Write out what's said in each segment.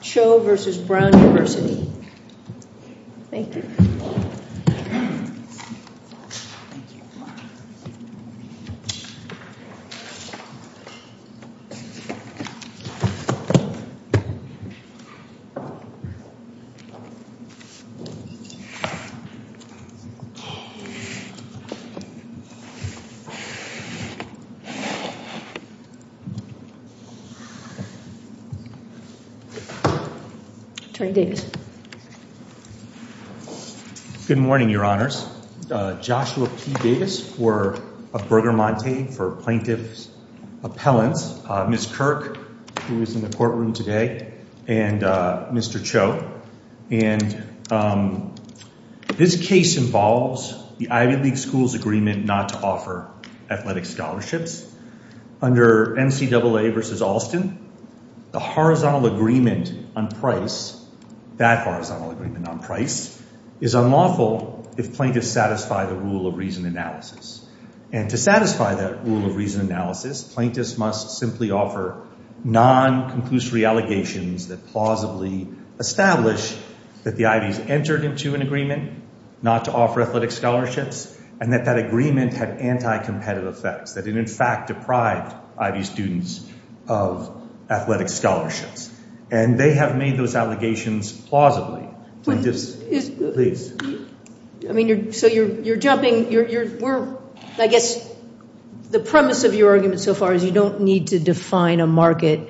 Choh v. Brown University Attorney Davis. Good morning, Your Honors. Joshua P. Davis of Bergamonte for Plaintiff's Appellants, Ms. Kirk who is in the courtroom today, and Mr. Choh. And this case involves the Ivy League schools' agreement not to offer athletic scholarships. Under NCAA v. Alston, the horizontal agreement on price, that horizontal agreement on price, is unlawful if plaintiffs satisfy the rule of reason analysis. And to satisfy that rule of reason analysis, plaintiffs must simply offer non-conclusory allegations that plausibly establish that the Ivies entered into an agreement not to offer athletic scholarships, and that that agreement had anti-competitive effects, that it in fact deprived Ivy students of athletic scholarships. And they have made those allegations plausibly. So you're jumping, I guess the premise of your argument so far is you don't need to define a market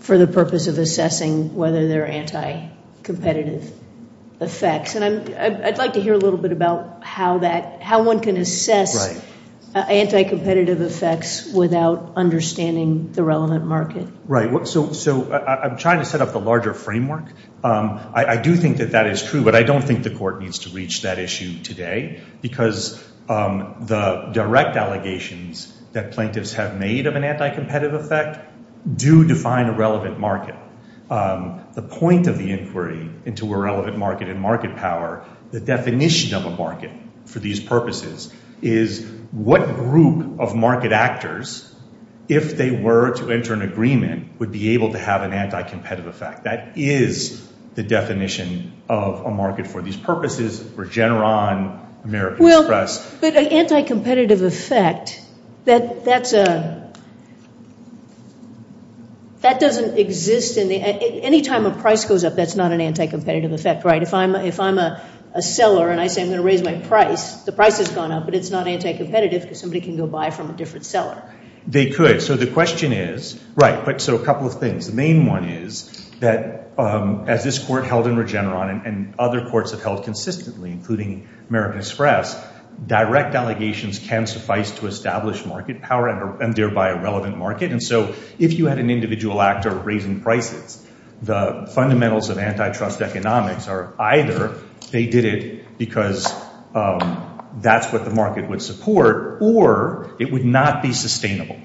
for the purpose of assessing whether there are anti-competitive effects. And I'd like to hear a little bit about how one can assess anti-competitive effects without understanding the relevant market. Right. So I'm trying to set up the larger framework. I do think that that is true, but I don't think the court needs to reach that issue today because the direct allegations that plaintiffs have made of an anti-competitive effect do define a relevant market. The point of the inquiry into a relevant market and market power, the definition of a market for these purposes, is what group of market actors, if they were to enter an agreement, would be able to have an anti-competitive effect. That is the definition of a market for these purposes, Regeneron, American Express. Well, but an anti-competitive effect, that doesn't exist. Anytime a price goes up, that's not an anti-competitive effect, right? If I'm a seller and I say I'm going to raise my price, the price has gone up, but it's not anti-competitive because somebody can go buy from a different seller. They could. So the question is, right, so a couple of things. The main one is that as this court held in Regeneron and other courts have held consistently, including American Express, direct allegations can suffice to establish market power and thereby a relevant market. And so if you had an individual actor raising prices, the fundamentals of antitrust economics are either they did it because that's what the market would support or it would not be sustainable.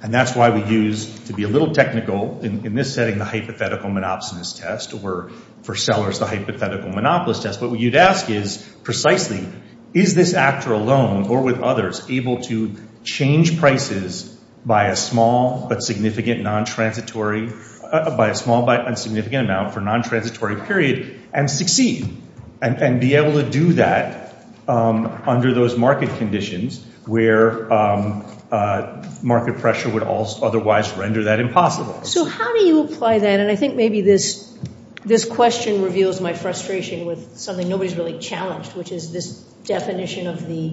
And that's why we use, to be a little technical in this setting, the hypothetical monopsonist test, or for sellers, the hypothetical monopolist test. What you'd ask is precisely, is this actor alone or with others able to change prices by a small but significant amount for a non-transitory period and succeed and be able to do that under those market conditions where market pressure would otherwise render that impossible? So how do you apply that? And I think maybe this question reveals my frustration with something nobody's really challenged, which is this definition of the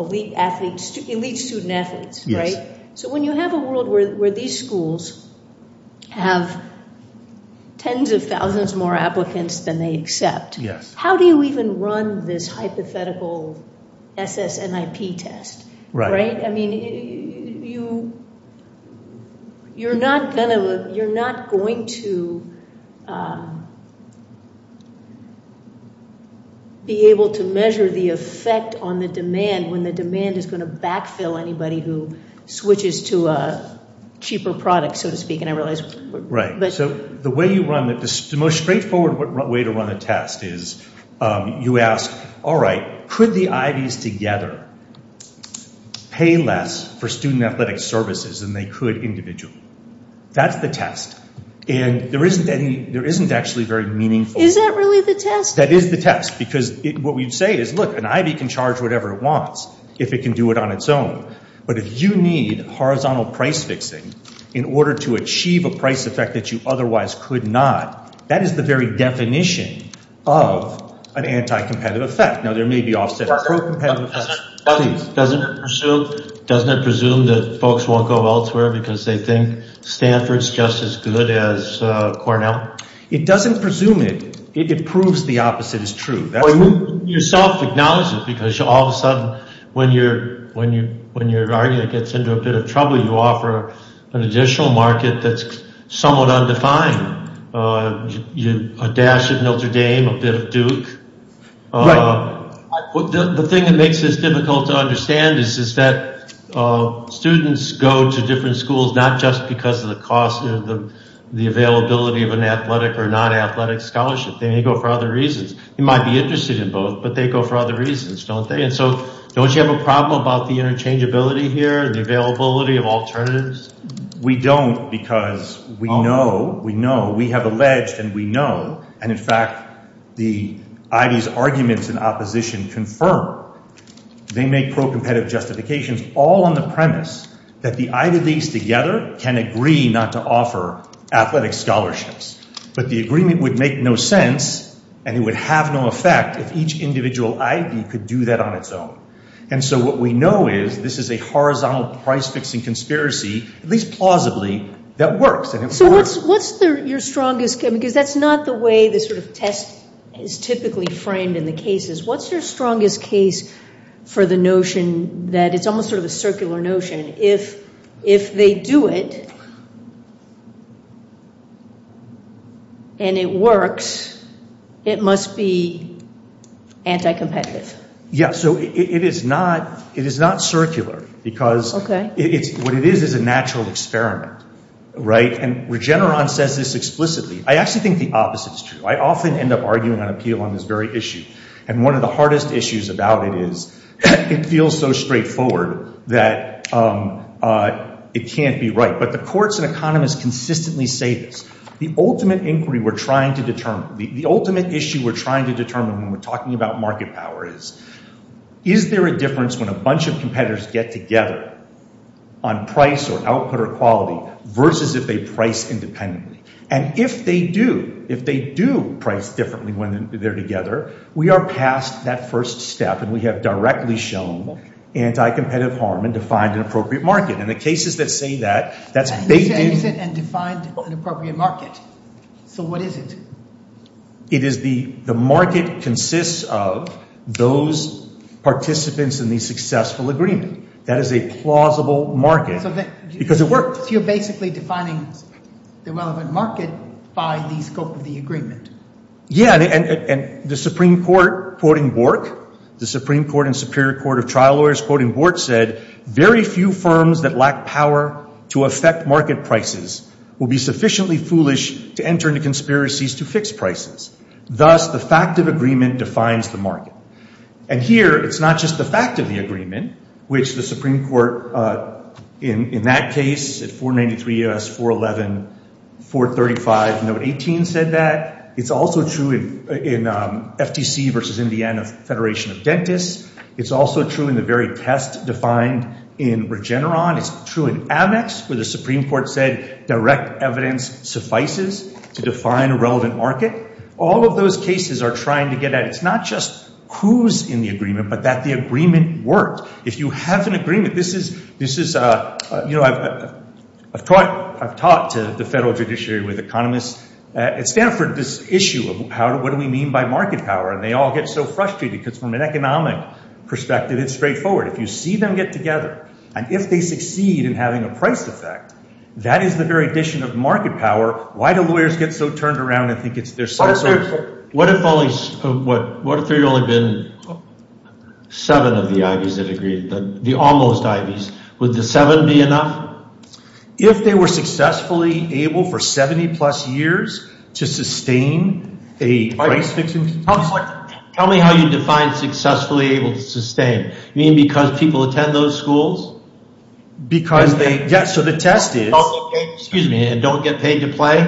elite student-athletes, right? So when you have a world where these schools have tens of thousands more applicants than they accept, how do you even run this hypothetical SSNIP test? Right. I mean, you're not going to be able to measure the effect on the demand when the demand is going to backfill anybody who switches to a cheaper product, so to speak. Right. So the most straightforward way to run a test is you ask, all right, could the Ivys together pay less for student-athletic services than they could individually? That's the test. And there isn't actually very meaningful. Is that really the test? That is the test, because what we say is, look, an Ivy can charge whatever it wants if it can do it on its own. But if you need horizontal price fixing in order to achieve a price effect that you otherwise could not, that is the very definition of an anti-competitive effect. Now, there may be offset pro-competitive effects. Doesn't it presume that folks won't go elsewhere because they think Stanford's just as good as Cornell? It doesn't presume it. It proves the opposite is true. You self-acknowledge it, because all of a sudden, when your argument gets into a bit of trouble, you offer an additional market that's somewhat undefined. A dash of Notre Dame, a bit of Duke. Right. The thing that makes this difficult to understand is that students go to different schools not just because of the cost of the availability of an athletic or non-athletic scholarship. They may go for other reasons. You might be interested in both, but they go for other reasons, don't they? And so don't you have a problem about the interchangeability here and the availability of alternatives? We don't because we know. We know. We have alleged and we know. And, in fact, the Ivy's arguments in opposition confirm. They make pro-competitive justifications all on the premise that the Ivy leagues together can agree not to offer athletic scholarships. But the agreement would make no sense, and it would have no effect if each individual Ivy could do that on its own. And so what we know is this is a horizontal price-fixing conspiracy, at least plausibly, that works. So what's your strongest – because that's not the way the sort of test is typically framed in the cases. What's your strongest case for the notion that it's almost sort of a circular notion? If they do it and it works, it must be anti-competitive. Yeah, so it is not circular because what it is is a natural experiment, right? And Regeneron says this explicitly. I actually think the opposite is true. I often end up arguing on appeal on this very issue. And one of the hardest issues about it is it feels so straightforward that it can't be right. But the courts and economists consistently say this. The ultimate inquiry we're trying to determine – the ultimate issue we're trying to determine when we're talking about market power is, is there a difference when a bunch of competitors get together on price or output or quality versus if they price independently? And if they do, if they do price differently when they're together, we are past that first step. And we have directly shown anti-competitive harm and defined an appropriate market. And the cases that say that, that's – And you said and defined an appropriate market. So what is it? It is the market consists of those participants in the successful agreement. That is a plausible market because it works. So you're basically defining the relevant market by the scope of the agreement. Yeah, and the Supreme Court, quoting Bork, the Supreme Court and Superior Court of Trial Lawyers, quoting Bork, said, very few firms that lack power to affect market prices will be sufficiently foolish to enter into conspiracies to fix prices. Thus, the fact of agreement defines the market. And here, it's not just the fact of the agreement, which the Supreme Court, in that case, at 493 U.S. 411, 435, note 18 said that. It's also true in FTC versus Indiana Federation of Dentists. It's also true in the very test defined in Regeneron. It's true in Amex where the Supreme Court said direct evidence suffices to define a relevant market. All of those cases are trying to get at – it's not just who's in the agreement, but that the agreement works. If you have an agreement, this is – I've taught to the federal judiciary with economists at Stanford this issue of what do we mean by market power. And they all get so frustrated because from an economic perspective, it's straightforward. If you see them get together and if they succeed in having a price effect, that is the very addition of market power. Why do lawyers get so turned around and think it's – they're so – What if there had only been seven of the IVs that agreed, the almost IVs? Would the seven be enough? If they were successfully able for 70-plus years to sustain a price fixing – Tell me how you define successfully able to sustain. You mean because people attend those schools? Because they – yeah, so the test is – And don't get paid to play?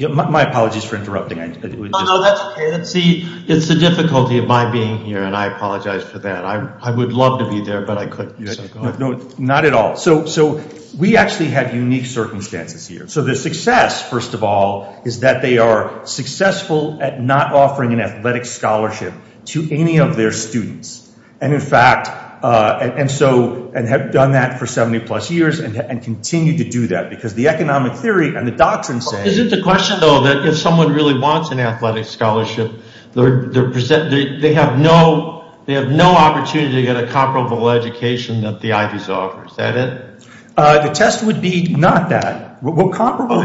My apologies for interrupting. No, that's okay. It's the difficulty of my being here, and I apologize for that. I would love to be there, but I couldn't. Not at all. So we actually have unique circumstances here. So the success, first of all, is that they are successful at not offering an athletic scholarship to any of their students. And in fact – and so – and have done that for 70-plus years and continue to do that because the economic theory and the doctrine say – Is it the question, though, that if someone really wants an athletic scholarship, they're – they have no – they have no opportunity to get a comparable education that the IVs offer? Is that it? The test would be not that. What comparable –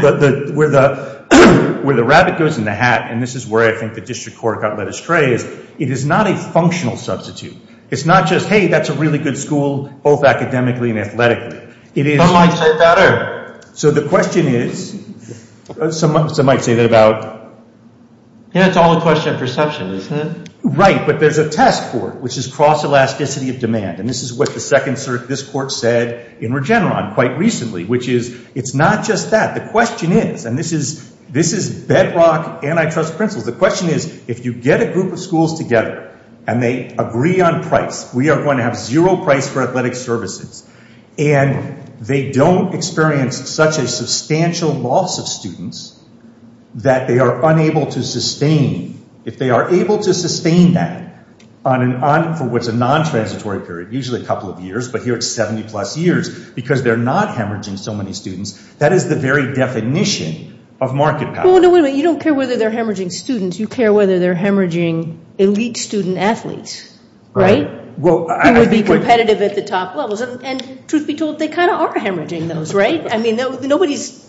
where the rabbit goes in the hat, and this is where I think the district court got led astray, is it is not a functional substitute. It's not just, hey, that's a really good school, both academically and athletically. Some might say better. So the question is – some might say that about – Yeah, it's all a question of perception, isn't it? Right, but there's a test for it, which is cross-elasticity of demand. And this is what the second – this court said in Regeneron quite recently, which is it's not just that. The question is – and this is bedrock antitrust principles. The question is if you get a group of schools together and they agree on price, we are going to have zero price for athletic services. And they don't experience such a substantial loss of students that they are unable to sustain. If they are able to sustain that on – for what's a non-transitory period, usually a couple of years, but here it's 70-plus years because they're not hemorrhaging so many students, that is the very definition of market power. Well, no, wait a minute. You don't care whether they're hemorrhaging students. You care whether they're hemorrhaging elite student athletes, right, who would be competitive at the top levels. And truth be told, they kind of are hemorrhaging those, right? I mean, nobody's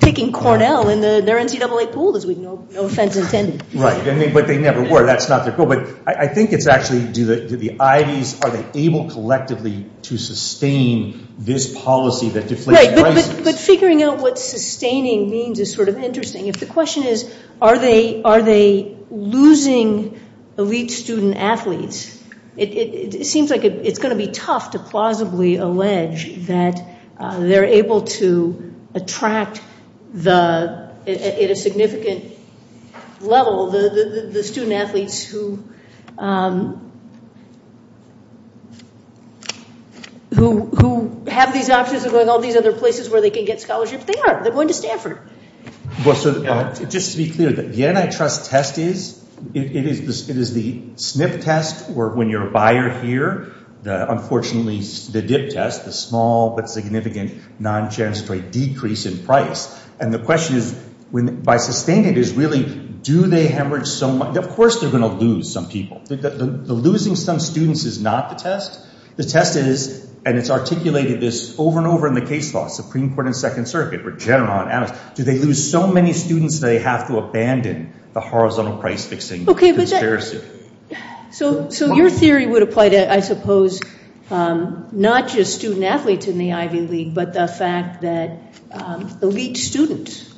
picking Cornell in their NCAA pool, no offense intended. Right, but they never were. That's not their goal. But I think it's actually do the Ivies – are they able collectively to sustain this policy that deflates prices? Right, but figuring out what sustaining means is sort of interesting. If the question is are they losing elite student athletes, it seems like it's going to be tough to plausibly allege that they're able to attract the – at a significant level the student athletes who have these options of going all these other places where they can get scholarships. They are. They're going to Stanford. Well, so just to be clear, the antitrust test is – it is the SNF test where when you're a buyer here, unfortunately the dip test, the small but significant non-transitory decrease in price. And the question is by sustaining it is really do they hemorrhage – of course they're going to lose some people. The losing some students is not the test. The test is – and it's articulated this over and over in the case law, Supreme Court and Second Circuit, do they lose so many students that they have to abandon the horizontal price-fixing conspiracy? So your theory would apply to, I suppose, not just student athletes in the Ivy League, but the fact that elite students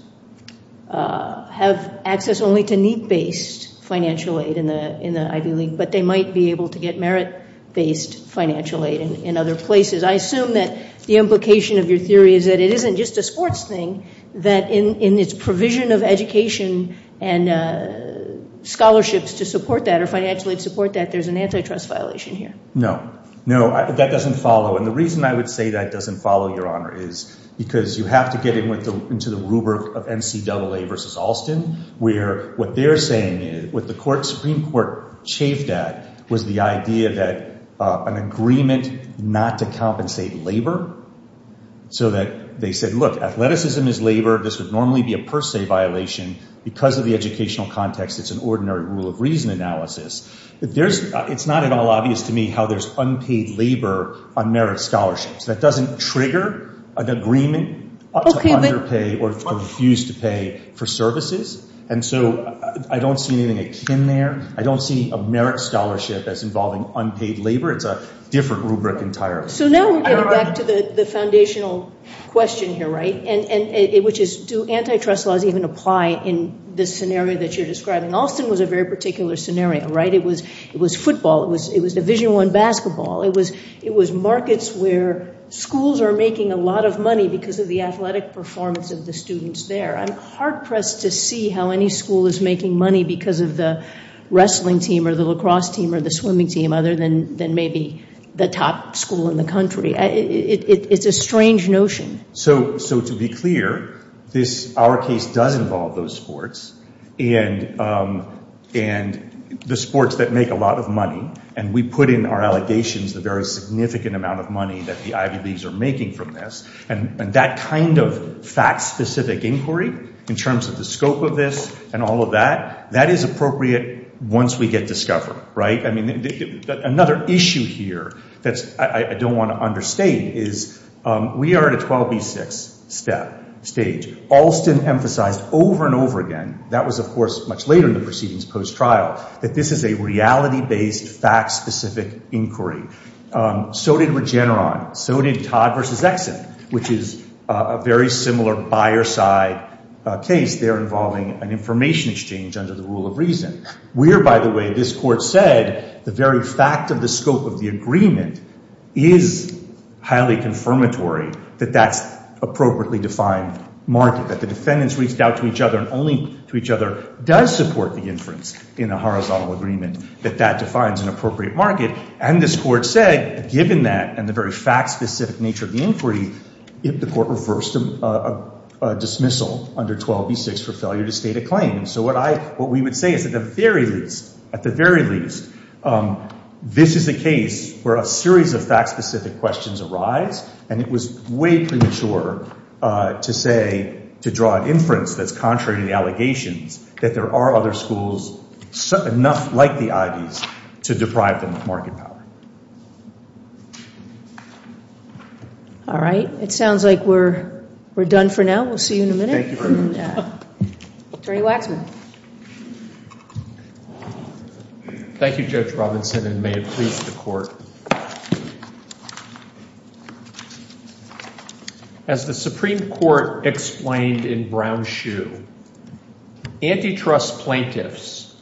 have access only to need-based financial aid in the Ivy League, but they might be able to get merit-based financial aid in other places. I assume that the implication of your theory is that it isn't just a sports thing, that in its provision of education and scholarships to support that or financial aid to support that, there's an antitrust violation here. No. No, that doesn't follow. And the reason I would say that doesn't follow, Your Honor, is because you have to get into the rubric of NCAA versus Alston, where what they're saying, what the Supreme Court chafed at, was the idea that an agreement not to compensate labor, so that they said, look, athleticism is labor. This would normally be a per se violation. Because of the educational context, it's an ordinary rule of reason analysis. It's not at all obvious to me how there's unpaid labor on merit scholarships. That doesn't trigger an agreement to underpay or refuse to pay for services. And so I don't see anything akin there. I don't see a merit scholarship that's involving unpaid labor. It's a different rubric entirely. So now we're getting back to the foundational question here, right, which is do antitrust laws even apply in this scenario that you're describing? Alston was a very particular scenario, right? It was football. It was Division I basketball. It was markets where schools are making a lot of money because of the athletic performance of the students there. I'm hard-pressed to see how any school is making money because of the wrestling team or the lacrosse team or the swimming team other than maybe the top school in the country. It's a strange notion. So to be clear, our case does involve those sports and the sports that make a lot of money. And we put in our allegations that there is a significant amount of money that the Ivy Leagues are making from this. And that kind of fact-specific inquiry in terms of the scope of this and all of that, that is appropriate once we get discovered, right? I mean, another issue here that I don't want to understate is we are at a 12B6 stage. Alston emphasized over and over again, that was, of course, much later in the proceedings post-trial, that this is a reality-based, fact-specific inquiry. So did Regeneron. So did Todd v. Exum, which is a very similar buyer-side case there involving an information exchange under the rule of reason. Where, by the way, this Court said the very fact of the scope of the agreement is highly confirmatory that that's appropriately defined market, that the defendants reached out to each other and only to each other does support the inference in a horizontal agreement that that defines an appropriate market. And this Court said, given that and the very fact-specific nature of the inquiry, the Court reversed a dismissal under 12B6 for failure to state a claim. So what we would say is at the very least, at the very least, this is a case where a series of fact-specific questions arise. And it was way premature to say, to draw an inference that's contrary to the allegations, that there are other schools enough like the Ivey's to deprive them of market power. All right. It sounds like we're done for now. We'll see you in a minute. Thank you very much. Attorney Waxman. Thank you, Judge Robinson, and may it please the Court. As the Supreme Court explained in Brown-Shue, antitrust plaintiffs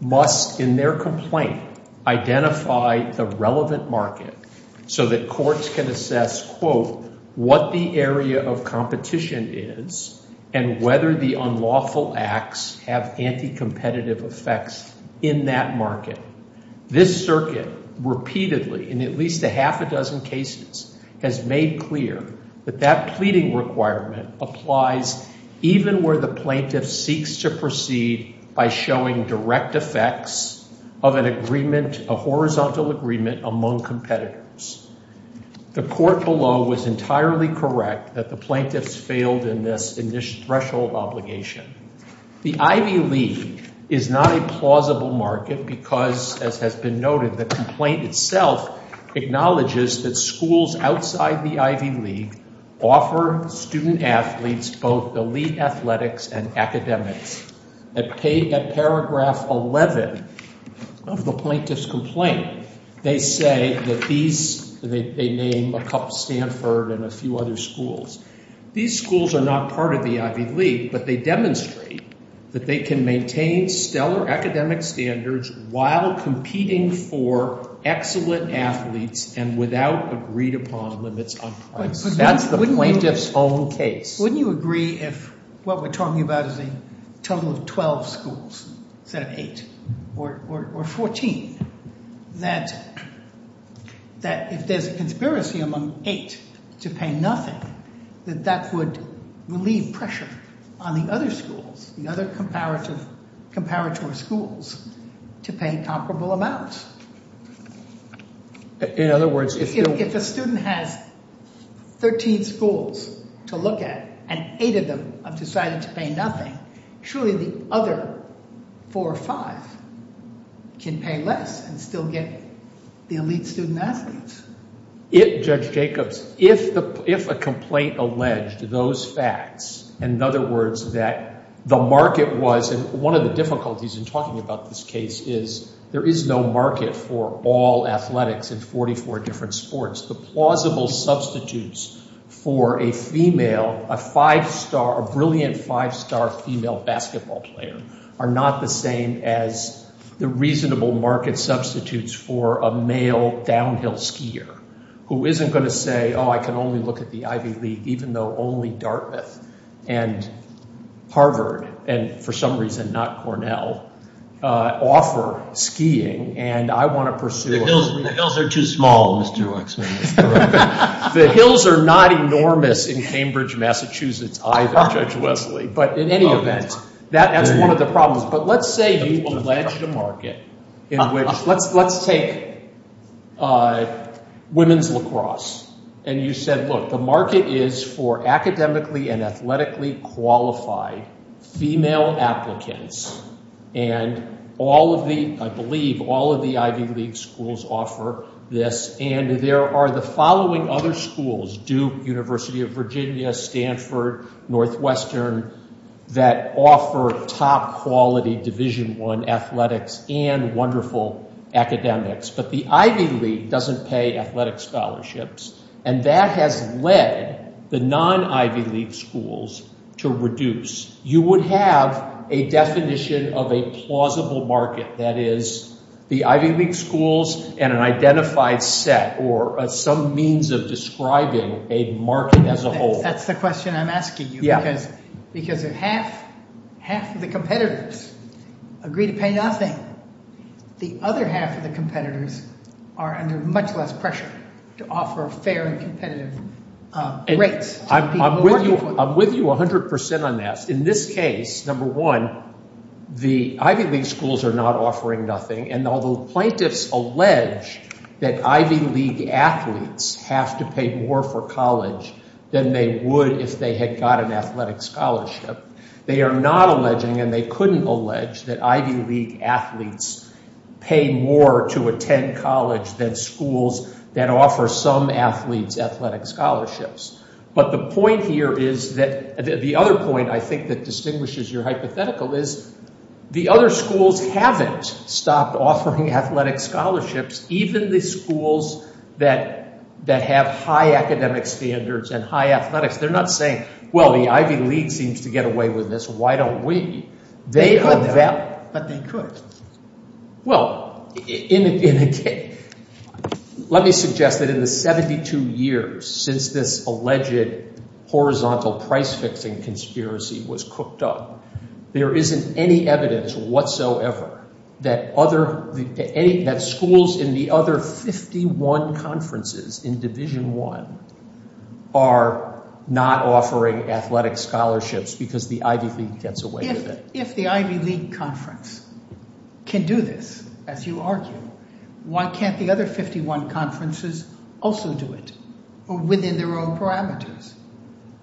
must, in their complaint, identify the relevant market so that courts can assess, quote, what the area of competition is and whether the unlawful acts have anti-competitive effects in that market. This circuit repeatedly, in at least a half a dozen cases, has made clear that that pleading requirement applies even where the plaintiff seeks to proceed by showing direct effects of an agreement, a horizontal agreement, among competitors. The court below was entirely correct that the plaintiffs failed in this threshold obligation. The Ivey League is not a plausible market because, as has been noted, the complaint itself acknowledges that schools outside the Ivey League offer student-athletes both elite athletics and academics. At paragraph 11 of the plaintiff's complaint, they say that these, they name a couple Stanford and a few other schools. These schools are not part of the Ivey League, but they demonstrate that they can maintain stellar academic standards while competing for excellent athletes and without agreed-upon limits on price. That's the plaintiff's own case. Wouldn't you agree if what we're talking about is a total of 12 schools instead of 8 or 14, that if there's a conspiracy among 8 to pay nothing, that that would relieve pressure on the other schools, the other comparatory schools, to pay comparable amounts? In other words, if a student has 13 schools to look at and 8 of them have decided to pay nothing, surely the other 4 or 5 can pay less and still get the elite student-athletes. If, Judge Jacobs, if a complaint alleged those facts, in other words, that the market was, and one of the difficulties in talking about this case is there is no market for all athletics in 44 different sports. The plausible substitutes for a female, a 5-star, a brilliant 5-star female basketball player are not the same as the reasonable market substitutes for a male downhill skier who isn't going to say, oh, I can only look at the Ivey League even though only Dartmouth and Harvard and for some reason not Cornell, offer skiing and I want to pursue it. The hills are too small, Mr. Waxman. The hills are not enormous in Cambridge, Massachusetts either, Judge Wesley. But in any event, that's one of the problems. But let's say you alleged a market in which, let's take women's lacrosse, and you said, look, the market is for academically and athletically qualified female applicants and all of the, I believe, all of the Ivey League schools offer this and there are the following other schools, Duke, University of Virginia, Stanford, Northwestern, that offer top quality Division I athletics and wonderful academics. But the Ivey League doesn't pay athletic scholarships and that has led the non-Ivey League schools to reduce. You would have a definition of a plausible market, that is, the Ivey League schools and an identified set or some means of describing a market as a whole. That's the question I'm asking you because half of the competitors agree to pay nothing. The other half of the competitors are under much less pressure to offer fair and competitive rates. I'm with you 100% on that. In this case, number one, the Ivey League schools are not offering nothing and although plaintiffs allege that Ivey League athletes have to pay more for college than they would if they had got an athletic scholarship, they are not alleging and they couldn't allege that Ivey League athletes pay more to attend college than schools that offer some athletes athletic scholarships. But the point here is that, the other point I think that distinguishes your hypothetical is the other schools haven't stopped offering athletic scholarships, even the schools that have high academic standards and high athletics. They're not saying, well, the Ivey League seems to get away with this, why don't we? They could, but they couldn't. Well, let me suggest that in the 72 years since this alleged horizontal price-fixing conspiracy was cooked up, there isn't any evidence whatsoever that schools in the other 51 conferences in Division I are not offering athletic scholarships because the Ivey League gets away with it. If the Ivey League conference can do this, as you argue, why can't the other 51 conferences also do it or within their own parameters?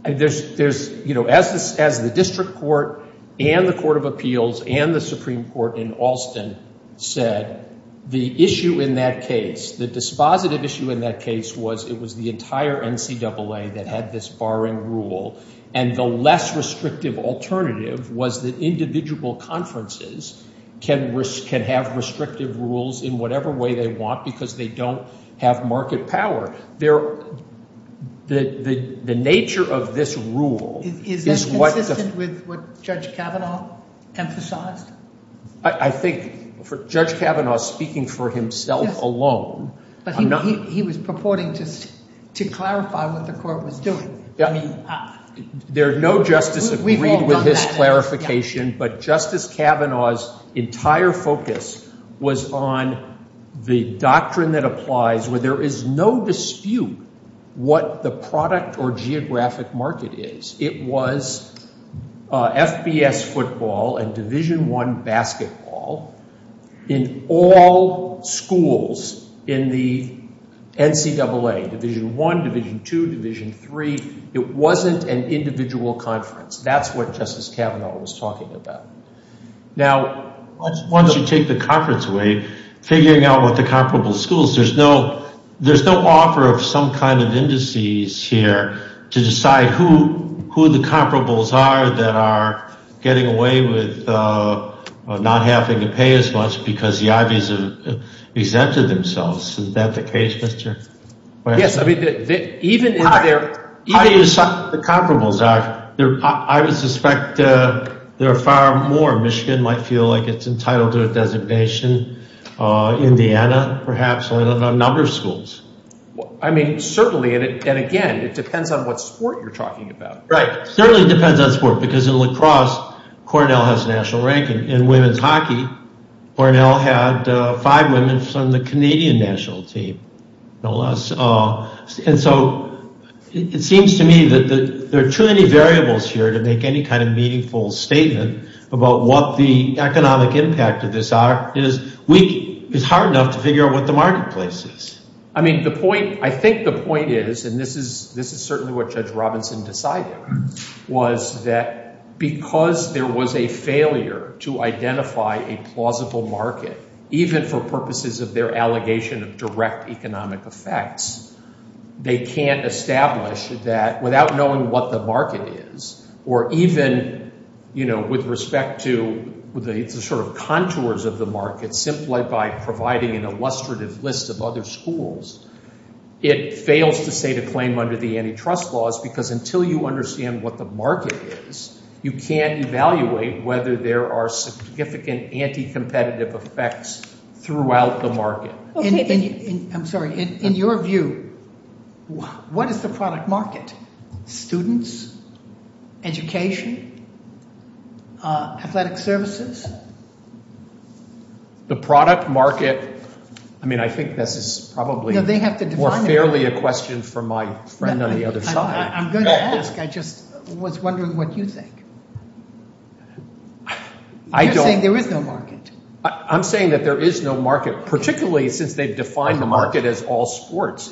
As the District Court and the Court of Appeals and the Supreme Court in Alston said, the issue in that case, the dispositive issue in that case was, it was the entire NCAA that had this barring rule, and the less restrictive alternative was that individual conferences can have restrictive rules in whatever way they want because they don't have market power. The nature of this rule is what... Is this consistent with what Judge Kavanaugh emphasized? I think for Judge Kavanaugh speaking for himself alone... Yes, but he was purporting just to clarify what the court was doing. I mean, there is no justice agreed with his clarification, but Justice Kavanaugh's entire focus was on the doctrine that applies where there is no dispute what the product or geographic market is. It was FBS football and Division I basketball in all schools in the NCAA, Division I, Division II, Division III. It wasn't an individual conference. That's what Justice Kavanaugh was talking about. Now, once you take the conference away, figuring out what the comparable schools, there's no offer of some kind of indices here to decide who the comparables are that are getting away with not having to pay as much because the Ivies have exempted themselves. Is that the case, Mr. Weiss? Yes, I mean, even in their... How do you decide what the comparables are? I would suspect there are far more. Michigan might feel like it's entitled to a designation. Indiana perhaps. I don't know. A number of schools. I mean, certainly, and again, it depends on what sport you're talking about. Right. It certainly depends on sport because in lacrosse, Cornell has national ranking. In women's hockey, Cornell had five women from the Canadian national team, no less. And so it seems to me that there are too many variables here to make any kind of meaningful statement about what the economic impact of this is. It's hard enough to figure out what the marketplace is. I mean, the point, I think the point is, and this is certainly what Judge Robinson decided, was that because there was a failure to identify a plausible market, even for purposes of their allegation of direct economic effects, they can't establish that without knowing what the market is or even, you know, with respect to the sort of contours of the market, simply by providing an illustrative list of other schools, it fails to state a claim under the antitrust laws because until you understand what the market is, you can't evaluate whether there are significant anti-competitive effects throughout the market. I'm sorry. In your view, what is the product market? Students, education, athletic services? The product market, I mean, I think this is probably more fairly a question for my friend on the other side. I'm going to ask. I just was wondering what you think. You're saying there is no market. I'm saying that there is no market, particularly since they've defined the market as all sports.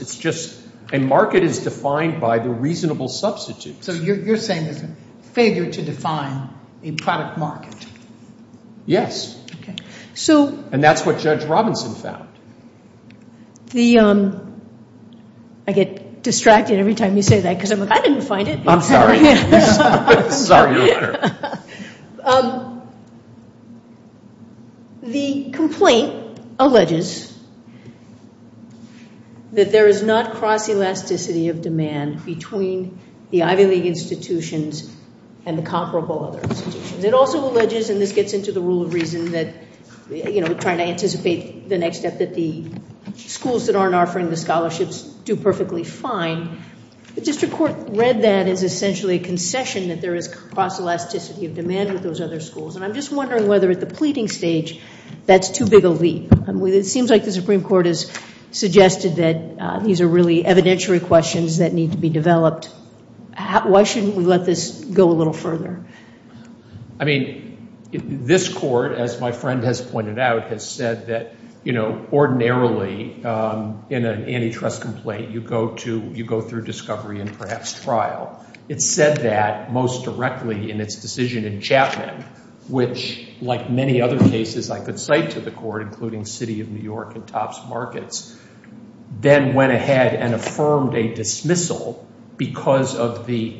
A market is defined by the reasonable substitutes. So you're saying there's a failure to define a product market. Yes. And that's what Judge Robinson found. I get distracted every time you say that because I'm like, I didn't find it. I'm sorry. I'm sorry. The complaint alleges that there is not cross-elasticity of demand between the Ivy League institutions and the comparable other institutions. It also alleges, and this gets into the rule of reason that, you know, trying to anticipate the next step that the schools that aren't offering the scholarships do perfectly fine. The district court read that as essentially a concession that there is cross-elasticity of demand with those other schools. And I'm just wondering whether at the pleading stage that's too big a leap. It seems like the Supreme Court has suggested that these are really evidentiary questions that need to be developed. Why shouldn't we let this go a little further? I mean, this court, as my friend has pointed out, has said that, you know, ordinarily in an antitrust complaint, you go through discovery and perhaps trial. It said that most directly in its decision in Chapman, which, like many other cases I could cite to the court, including City of New York and Topps Markets, then went ahead and affirmed a dismissal because of the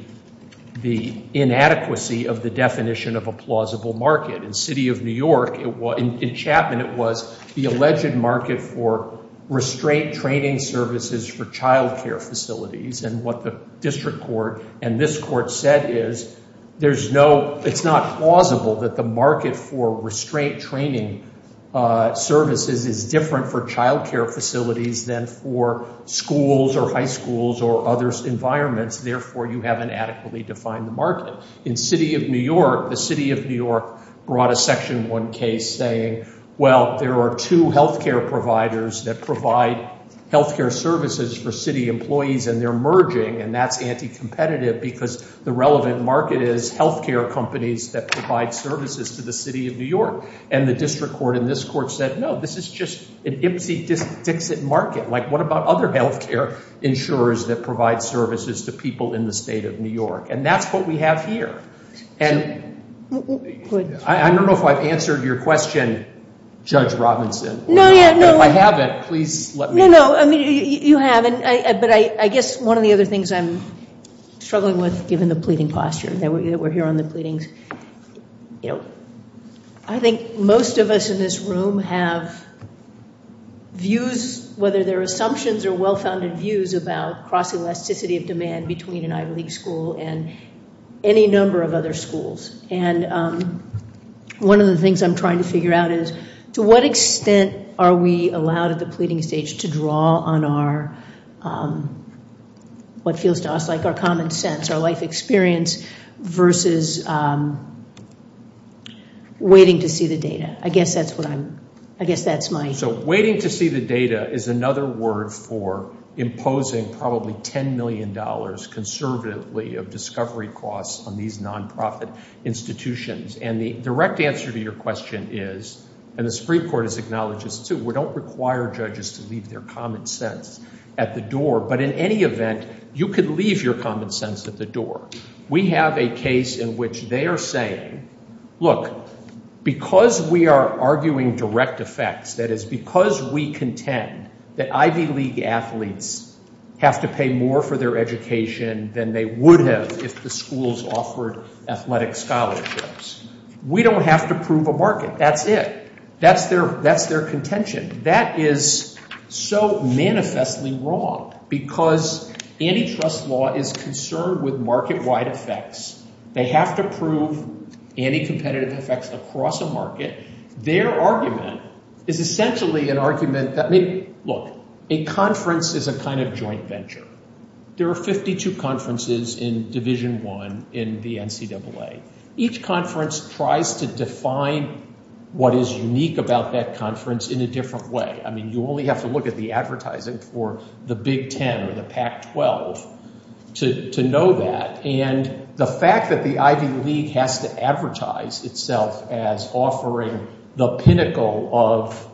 inadequacy of the definition of a plausible market. In City of New York, in Chapman, it was the alleged market for restraint training services for childcare facilities. And what the district court and this court said is there's no, it's not plausible that the market for restraint training services is different for childcare facilities than for schools or high schools or other environments. Therefore, you haven't adequately defined the market. In City of New York, the City of New York brought a Section 1 case saying, well, there are two healthcare providers that provide healthcare services for city employees and they're merging, and that's anti-competitive because the relevant market is healthcare companies that provide services to the City of New York. And the district court and this court said, no, this is just an ipsy-dixit market. Like, what about other healthcare insurers that provide services to people in the State of New York? And that's what we have here. I don't know if I've answered your question, Judge Robinson, but if I haven't, please let me know. No, no, I mean, you have, but I guess one of the other things I'm struggling with, given the pleading posture that we're hearing on the pleadings, I think most of us in this room have views, whether they're assumptions or well-founded views, about cross-elasticity of demand between an Ivy League school and any number of other schools. And one of the things I'm trying to figure out is, to what extent are we allowed at the pleading stage to draw on our, what feels to us like our common sense, our life experience, versus waiting to see the data? I guess that's what I'm, I guess that's my. So, waiting to see the data is another word for imposing probably $10 million conservatively of discovery costs on these non-profit institutions. And the direct answer to your question is, and the Supreme Court has acknowledged this too, we don't require judges to leave their common sense at the door, but in any event, you could leave your common sense at the door. We have a case in which they are saying, look, because we are arguing direct effects, that is because we contend that Ivy League athletes have to pay more for their education than they would have if the schools offered athletic scholarships, we don't have to prove a market. That's it. That's their contention. That is so manifestly wrong because antitrust law is concerned with market-wide effects. They have to prove anti-competitive effects across a market. Their argument is essentially an argument that, look, a conference is a kind of joint venture. There are 52 conferences in Division I in the NCAA. Each conference tries to define what is unique about that conference in a different way. I mean you only have to look at the advertising for the Big Ten or the Pac-12 to know that. And the fact that the Ivy League has to advertise itself as offering the pinnacle of,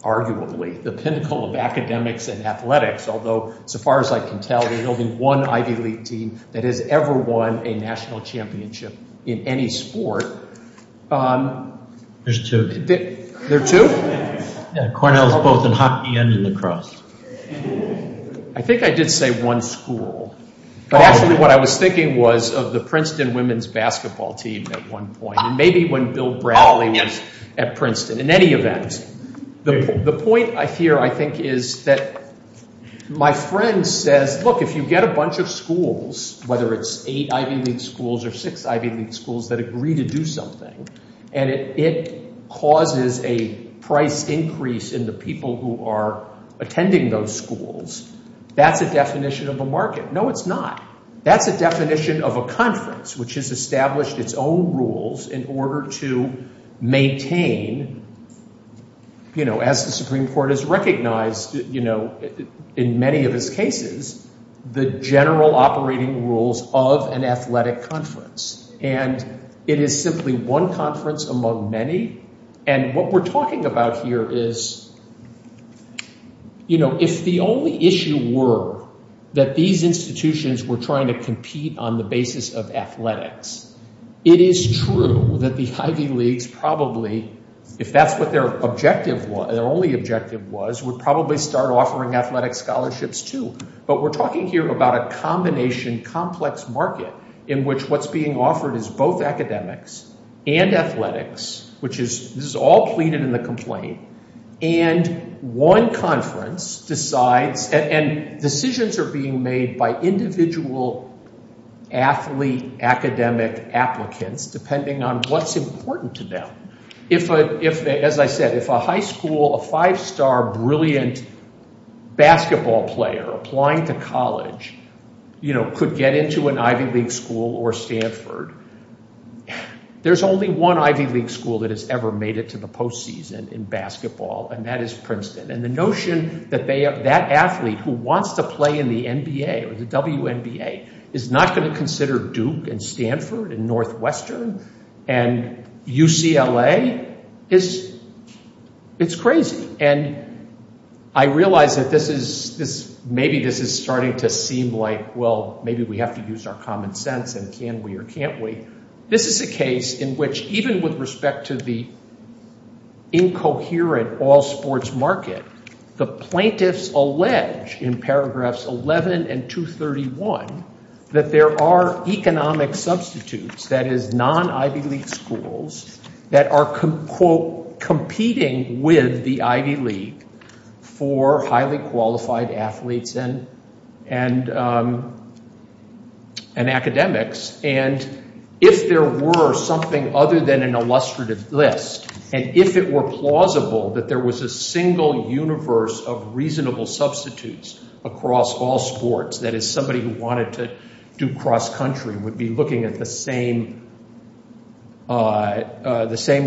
arguably, the pinnacle of academics and athletics, although so far as I can tell, there's only one Ivy League team that has ever won a national championship in any sport. There's two. There are two? Cornell is both in hockey and in lacrosse. I think I did say one school. But actually what I was thinking was of the Princeton women's basketball team at one point, and maybe when Bill Bradley was at Princeton. In any event, the point here I think is that my friend says, look, if you get a bunch of schools, whether it's eight Ivy League schools or six Ivy League schools that agree to do something and it causes a price increase in the people who are attending those schools, that's a definition of a market. No, it's not. That's a definition of a conference, which has established its own rules in order to maintain, you know, as the Supreme Court has recognized, you know, in many of its cases, the general operating rules of an athletic conference. And it is simply one conference among many. And what we're talking about here is, you know, if the only issue were that these institutions were trying to compete on the basis of athletics, it is true that the Ivy Leagues probably, if that's what their objective was, their only objective was, would probably start offering athletic scholarships too. But we're talking here about a combination complex market in which what's being offered is both academics and athletics, which is, this is all pleaded in the complaint. And one conference decides, and decisions are being made by individual athlete academic applicants, depending on what's important to them. If, as I said, if a high school, a five-star brilliant basketball player applying to college, you know, could get into an Ivy League school or Stanford, there's only one Ivy League school that has ever made it to the postseason in basketball, and that is Princeton. And the notion that they have that athlete who wants to play in the NBA or the WNBA is not going to consider Duke and Stanford and Northwestern and UCLA is, it's crazy. And I realize that this is, maybe this is starting to seem like, well, maybe we have to use our common sense and can we or can't we. This is a case in which even with respect to the incoherent all-sports market, the plaintiffs allege in paragraphs 11 and 231 that there are economic substitutes, that is, non-Ivy League schools that are, quote, competing with the Ivy League for highly qualified athletes and academics. And if there were something other than an illustrative list, and if it were plausible that there was a single universe of reasonable substitutes across all sports, that is, somebody who wanted to do cross-country would be looking at the same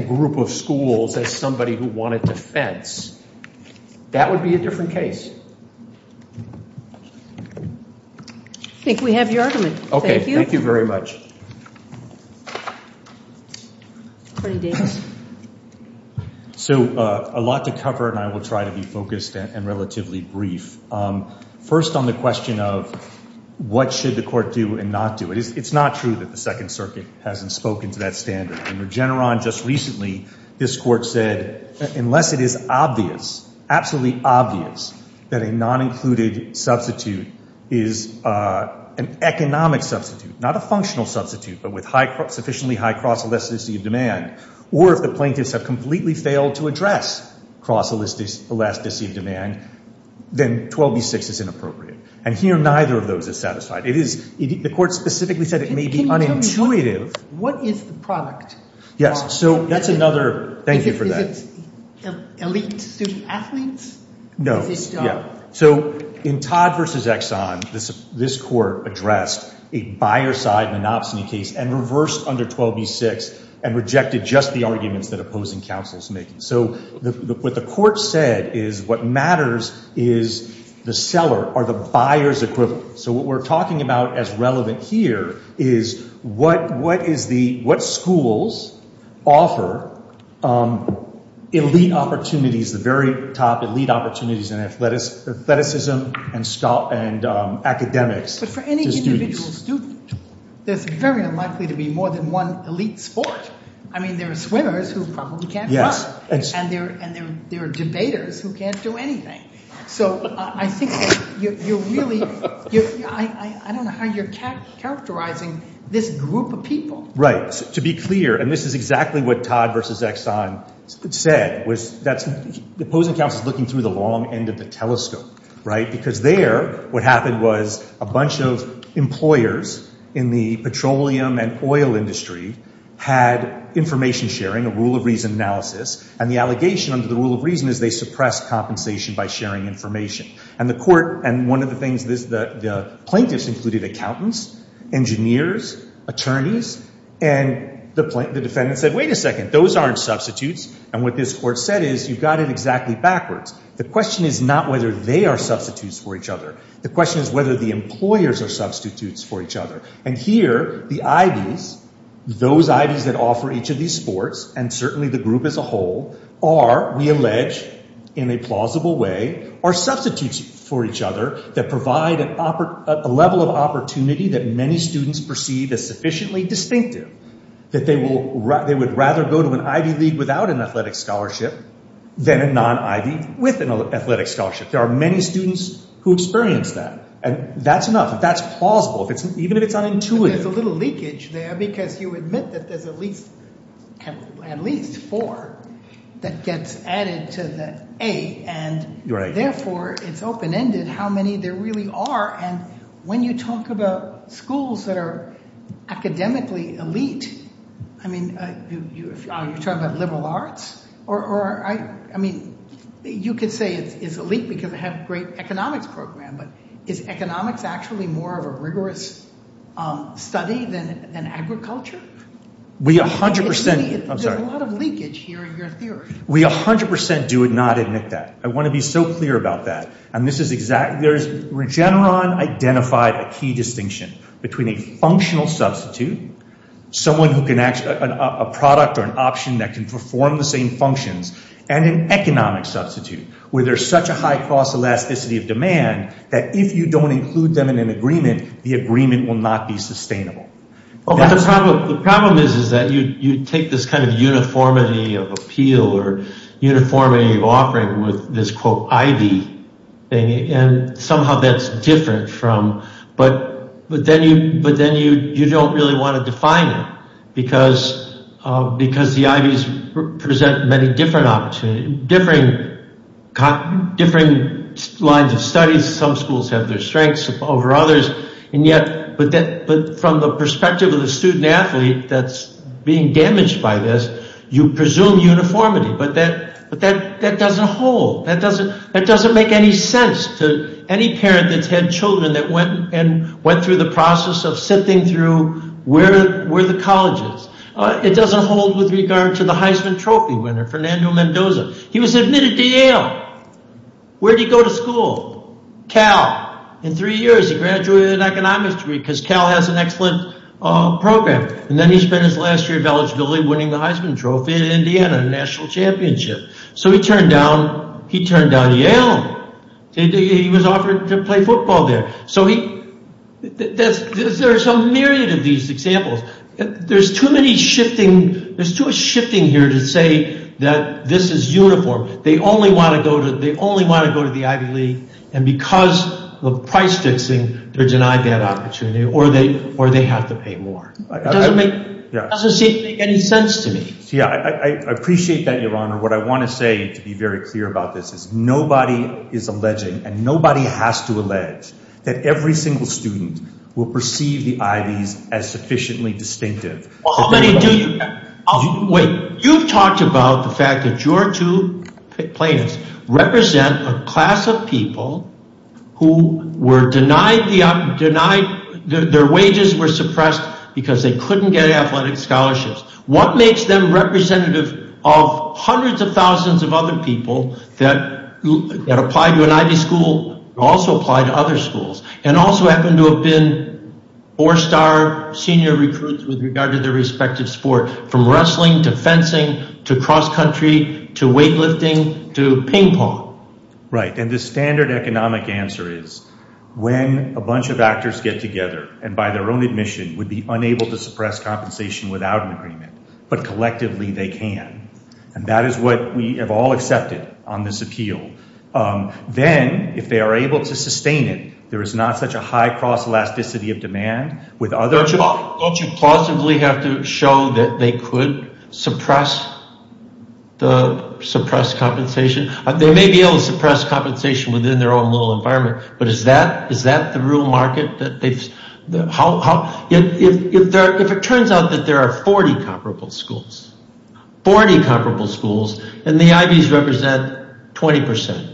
group of schools as somebody who wanted to fence, that would be a different case. I think we have your argument. Thank you. Okay. Thank you very much. So a lot to cover, and I will try to be focused and relatively brief. First on the question of what should the court do and not do. It's not true that the Second Circuit hasn't spoken to that standard. In Regeneron just recently, this court said unless it is obvious, absolutely obvious, that a non-included substitute is an economic substitute, not a functional substitute, but with sufficiently high cross-elasticity of demand, or if the plaintiffs have completely failed to address cross-elasticity of demand, then 12b-6 is inappropriate. And here neither of those is satisfied. The court specifically said it may be unintuitive. Can you tell me what is the product? Yes. So that's another – thank you for that. Is it elite student athletes? No. Is it – Yeah. So in Todd v. Exxon, this court addressed a buyer-side monopsony case and reversed under 12b-6 and rejected just the arguments that opposing counsel is making. So what the court said is what matters is the seller or the buyer's equivalent. So what we're talking about as relevant here is what schools offer elite opportunities, the very top elite opportunities in athleticism and academics to students. But for any individual student, there's very unlikely to be more than one elite sport. I mean, there are swimmers who probably can't run. Yes. And there are debaters who can't do anything. So I think you're really – I don't know how you're characterizing this group of people. Right. To be clear, and this is exactly what Todd v. Exxon said, was that opposing counsel is looking through the long end of the telescope, right, because there what happened was a bunch of employers in the petroleum and oil industry had information sharing, a rule of reason analysis, and the allegation under the rule of reason is they suppressed compensation by sharing information. And the court – and one of the things – the plaintiffs included accountants, engineers, attorneys, and the defendant said, wait a second, those aren't substitutes. And what this court said is you've got it exactly backwards. The question is not whether they are substitutes for each other. The question is whether the employers are substitutes for each other. And here the Ivys, those Ivys that offer each of these sports, and certainly the group as a whole, are, we allege, in a plausible way, are substitutes for each other that provide a level of opportunity that many students perceive as sufficiently distinctive, that they would rather go to an Ivy League without an athletic scholarship than a non-Ivy with an athletic scholarship. There are many students who experience that, and that's enough. Even if it's unintuitive. But there's a little leakage there because you admit that there's at least four that gets added to the A, and therefore it's open-ended how many there really are. And when you talk about schools that are academically elite, I mean, are you talking about liberal arts? Or, I mean, you could say it's elite because they have a great economics program, but is economics actually more of a rigorous study than agriculture? There's a lot of leakage here in your theory. We 100% do not admit that. I want to be so clear about that. Regeneron identified a key distinction between a functional substitute, a product or an option that can perform the same functions, and an economic substitute where there's such a high cost elasticity of demand that if you don't include them in an agreement, the agreement will not be sustainable. The problem is that you take this kind of uniformity of appeal or uniformity of offering with this, quote, Ivy thing, and somehow that's different from, but then you don't really want to define it because the Ivies present many different lines of studies. Some schools have their strengths over others, but from the perspective of the student athlete that's being damaged by this, you presume uniformity, but that doesn't hold. That doesn't make any sense to any parent that's had children that went through the process of sifting through where the college is. It doesn't hold with regard to the Heisman Trophy winner, Fernando Mendoza. He was admitted to Yale. Where did he go to school? Cal. In three years, he graduated with an economics degree because Cal has an excellent program. Then he spent his last year of eligibility winning the Heisman Trophy in Indiana, a national championship. So he turned down Yale. He was offered to play football there. So there's a myriad of these examples. There's too many shifting. There's too much shifting here to say that this is uniform. They only want to go to the Ivy League, and because of price fixing, they're denied that opportunity or they have to pay more. It doesn't make any sense to me. I appreciate that, Your Honor. What I want to say to be very clear about this is nobody is alleging, and nobody has to allege, that every single student will perceive the Ivys as sufficiently distinctive. How many do you have? You've talked about the fact that your two plaintiffs represent a class of people who were denied their wages, were suppressed because they couldn't get athletic scholarships. What makes them representative of hundreds of thousands of other people that apply to an Ivy school and also apply to other schools and also happen to have been four-star senior recruits with regard to their respective sport, from wrestling to fencing to cross-country to weightlifting to ping pong? Right, and the standard economic answer is when a bunch of actors get together and by their own admission would be unable to suppress compensation without an agreement, but collectively they can, and that is what we have all accepted on this appeal. Then, if they are able to sustain it, there is not such a high cross-elasticity of demand. Don't you plausibly have to show that they could suppress compensation? They may be able to suppress compensation within their own little environment, but is that the real market? If it turns out that there are 40 comparable schools and the Ivies represent 20%,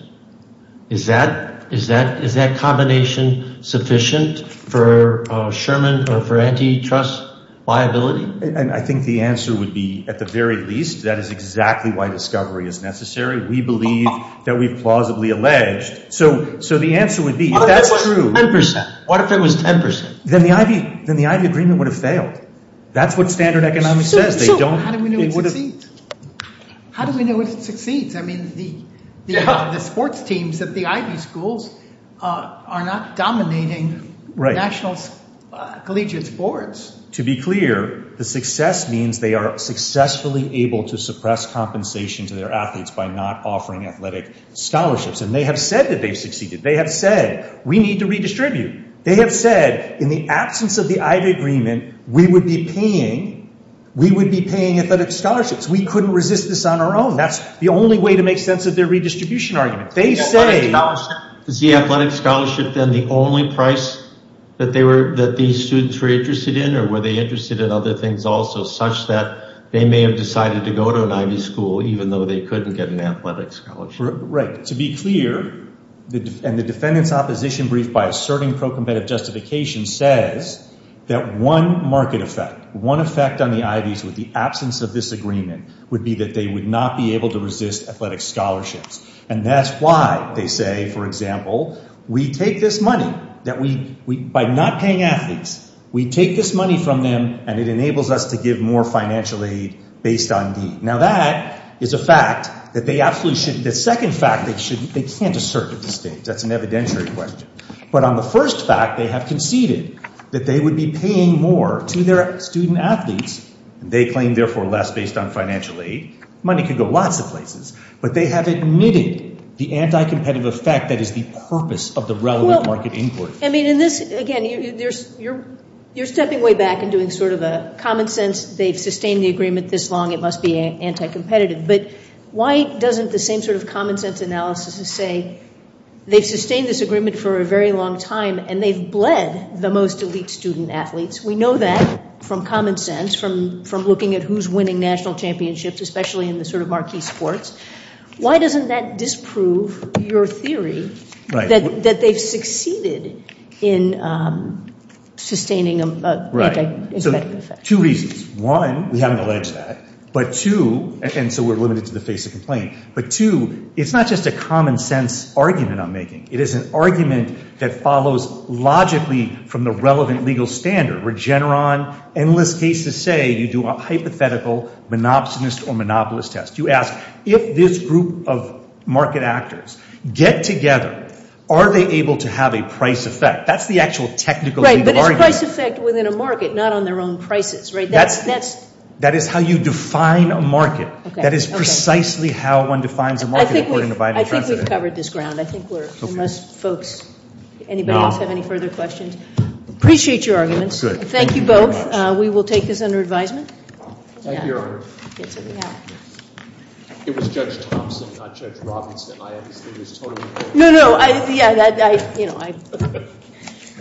is that combination sufficient for Sherman or for antitrust liability? I think the answer would be, at the very least, that is exactly why discovery is necessary. We believe that we've plausibly alleged, so the answer would be, if that's true… What if it was 10%? Then the Ivy agreement would have failed. That's what standard economics says. How do we know if it succeeds? I mean, the sports teams at the Ivy schools are not dominating national collegiate sports. To be clear, the success means they are successfully able to suppress compensation to their athletes by not offering athletic scholarships, and they have said that they've succeeded. They have said, we need to redistribute. They have said, in the absence of the Ivy agreement, we would be paying athletic scholarships. We couldn't resist this on our own. That's the only way to make sense of their redistribution argument. Is the athletic scholarship then the only price that these students were interested in, or were they interested in other things also, such that they may have decided to go to an Ivy school, even though they couldn't get an athletic scholarship? Right. To be clear, and the defendant's opposition brief by asserting pro-competitive justification says that one market effect, one effect on the Ivies with the absence of this agreement, would be that they would not be able to resist athletic scholarships. And that's why they say, for example, we take this money. By not paying athletes, we take this money from them, and it enables us to give more financial aid based on deed. Now, that is a fact that they absolutely shouldn't. The second fact, they can't assert at this stage. That's an evidentiary question. But on the first fact, they have conceded that they would be paying more to their student athletes. They claim, therefore, less based on financial aid. Money could go lots of places. But they have admitted the anti-competitive effect that is the purpose of the relevant market input. I mean, in this, again, you're stepping way back and doing sort of a common sense, they've sustained the agreement this long, it must be anti-competitive. But why doesn't the same sort of common sense analysis say they've sustained this agreement for a very long time, and they've bled the most elite student athletes? We know that from common sense, from looking at who's winning national championships, especially in the sort of marquee sports. Why doesn't that disprove your theory that they've succeeded in sustaining an anti-competitive effect? Two reasons. One, we haven't alleged that. But two, and so we're limited to the face of complaint. But two, it's not just a common sense argument I'm making. It is an argument that follows logically from the relevant legal standard. Regeneron, endless cases say you do a hypothetical monopsonist or monopolist test. You ask if this group of market actors get together, are they able to have a price effect? That's the actual technical argument. A price effect within a market, not on their own prices, right? That is how you define a market. That is precisely how one defines a market, according to Biden. I think we've covered this ground. I think we're unless folks, anybody else have any further questions? Appreciate your arguments. Thank you both. We will take this under advisement. Thank you, Your Honor. It was Judge Thompson, not Judge Robinson. No, no, yeah, I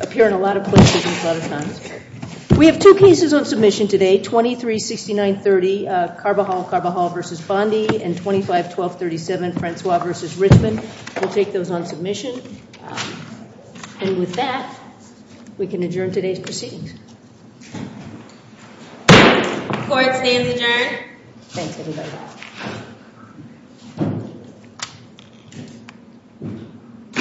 appear in a lot of places and a lot of times. We have two cases on submission today, 236930 Carbajal-Carbajal v. Bondi and 251237 Francois v. Richmond. We'll take those on submission. And with that, we can adjourn today's proceedings. Court stands adjourned. Thanks, everybody. Thank you.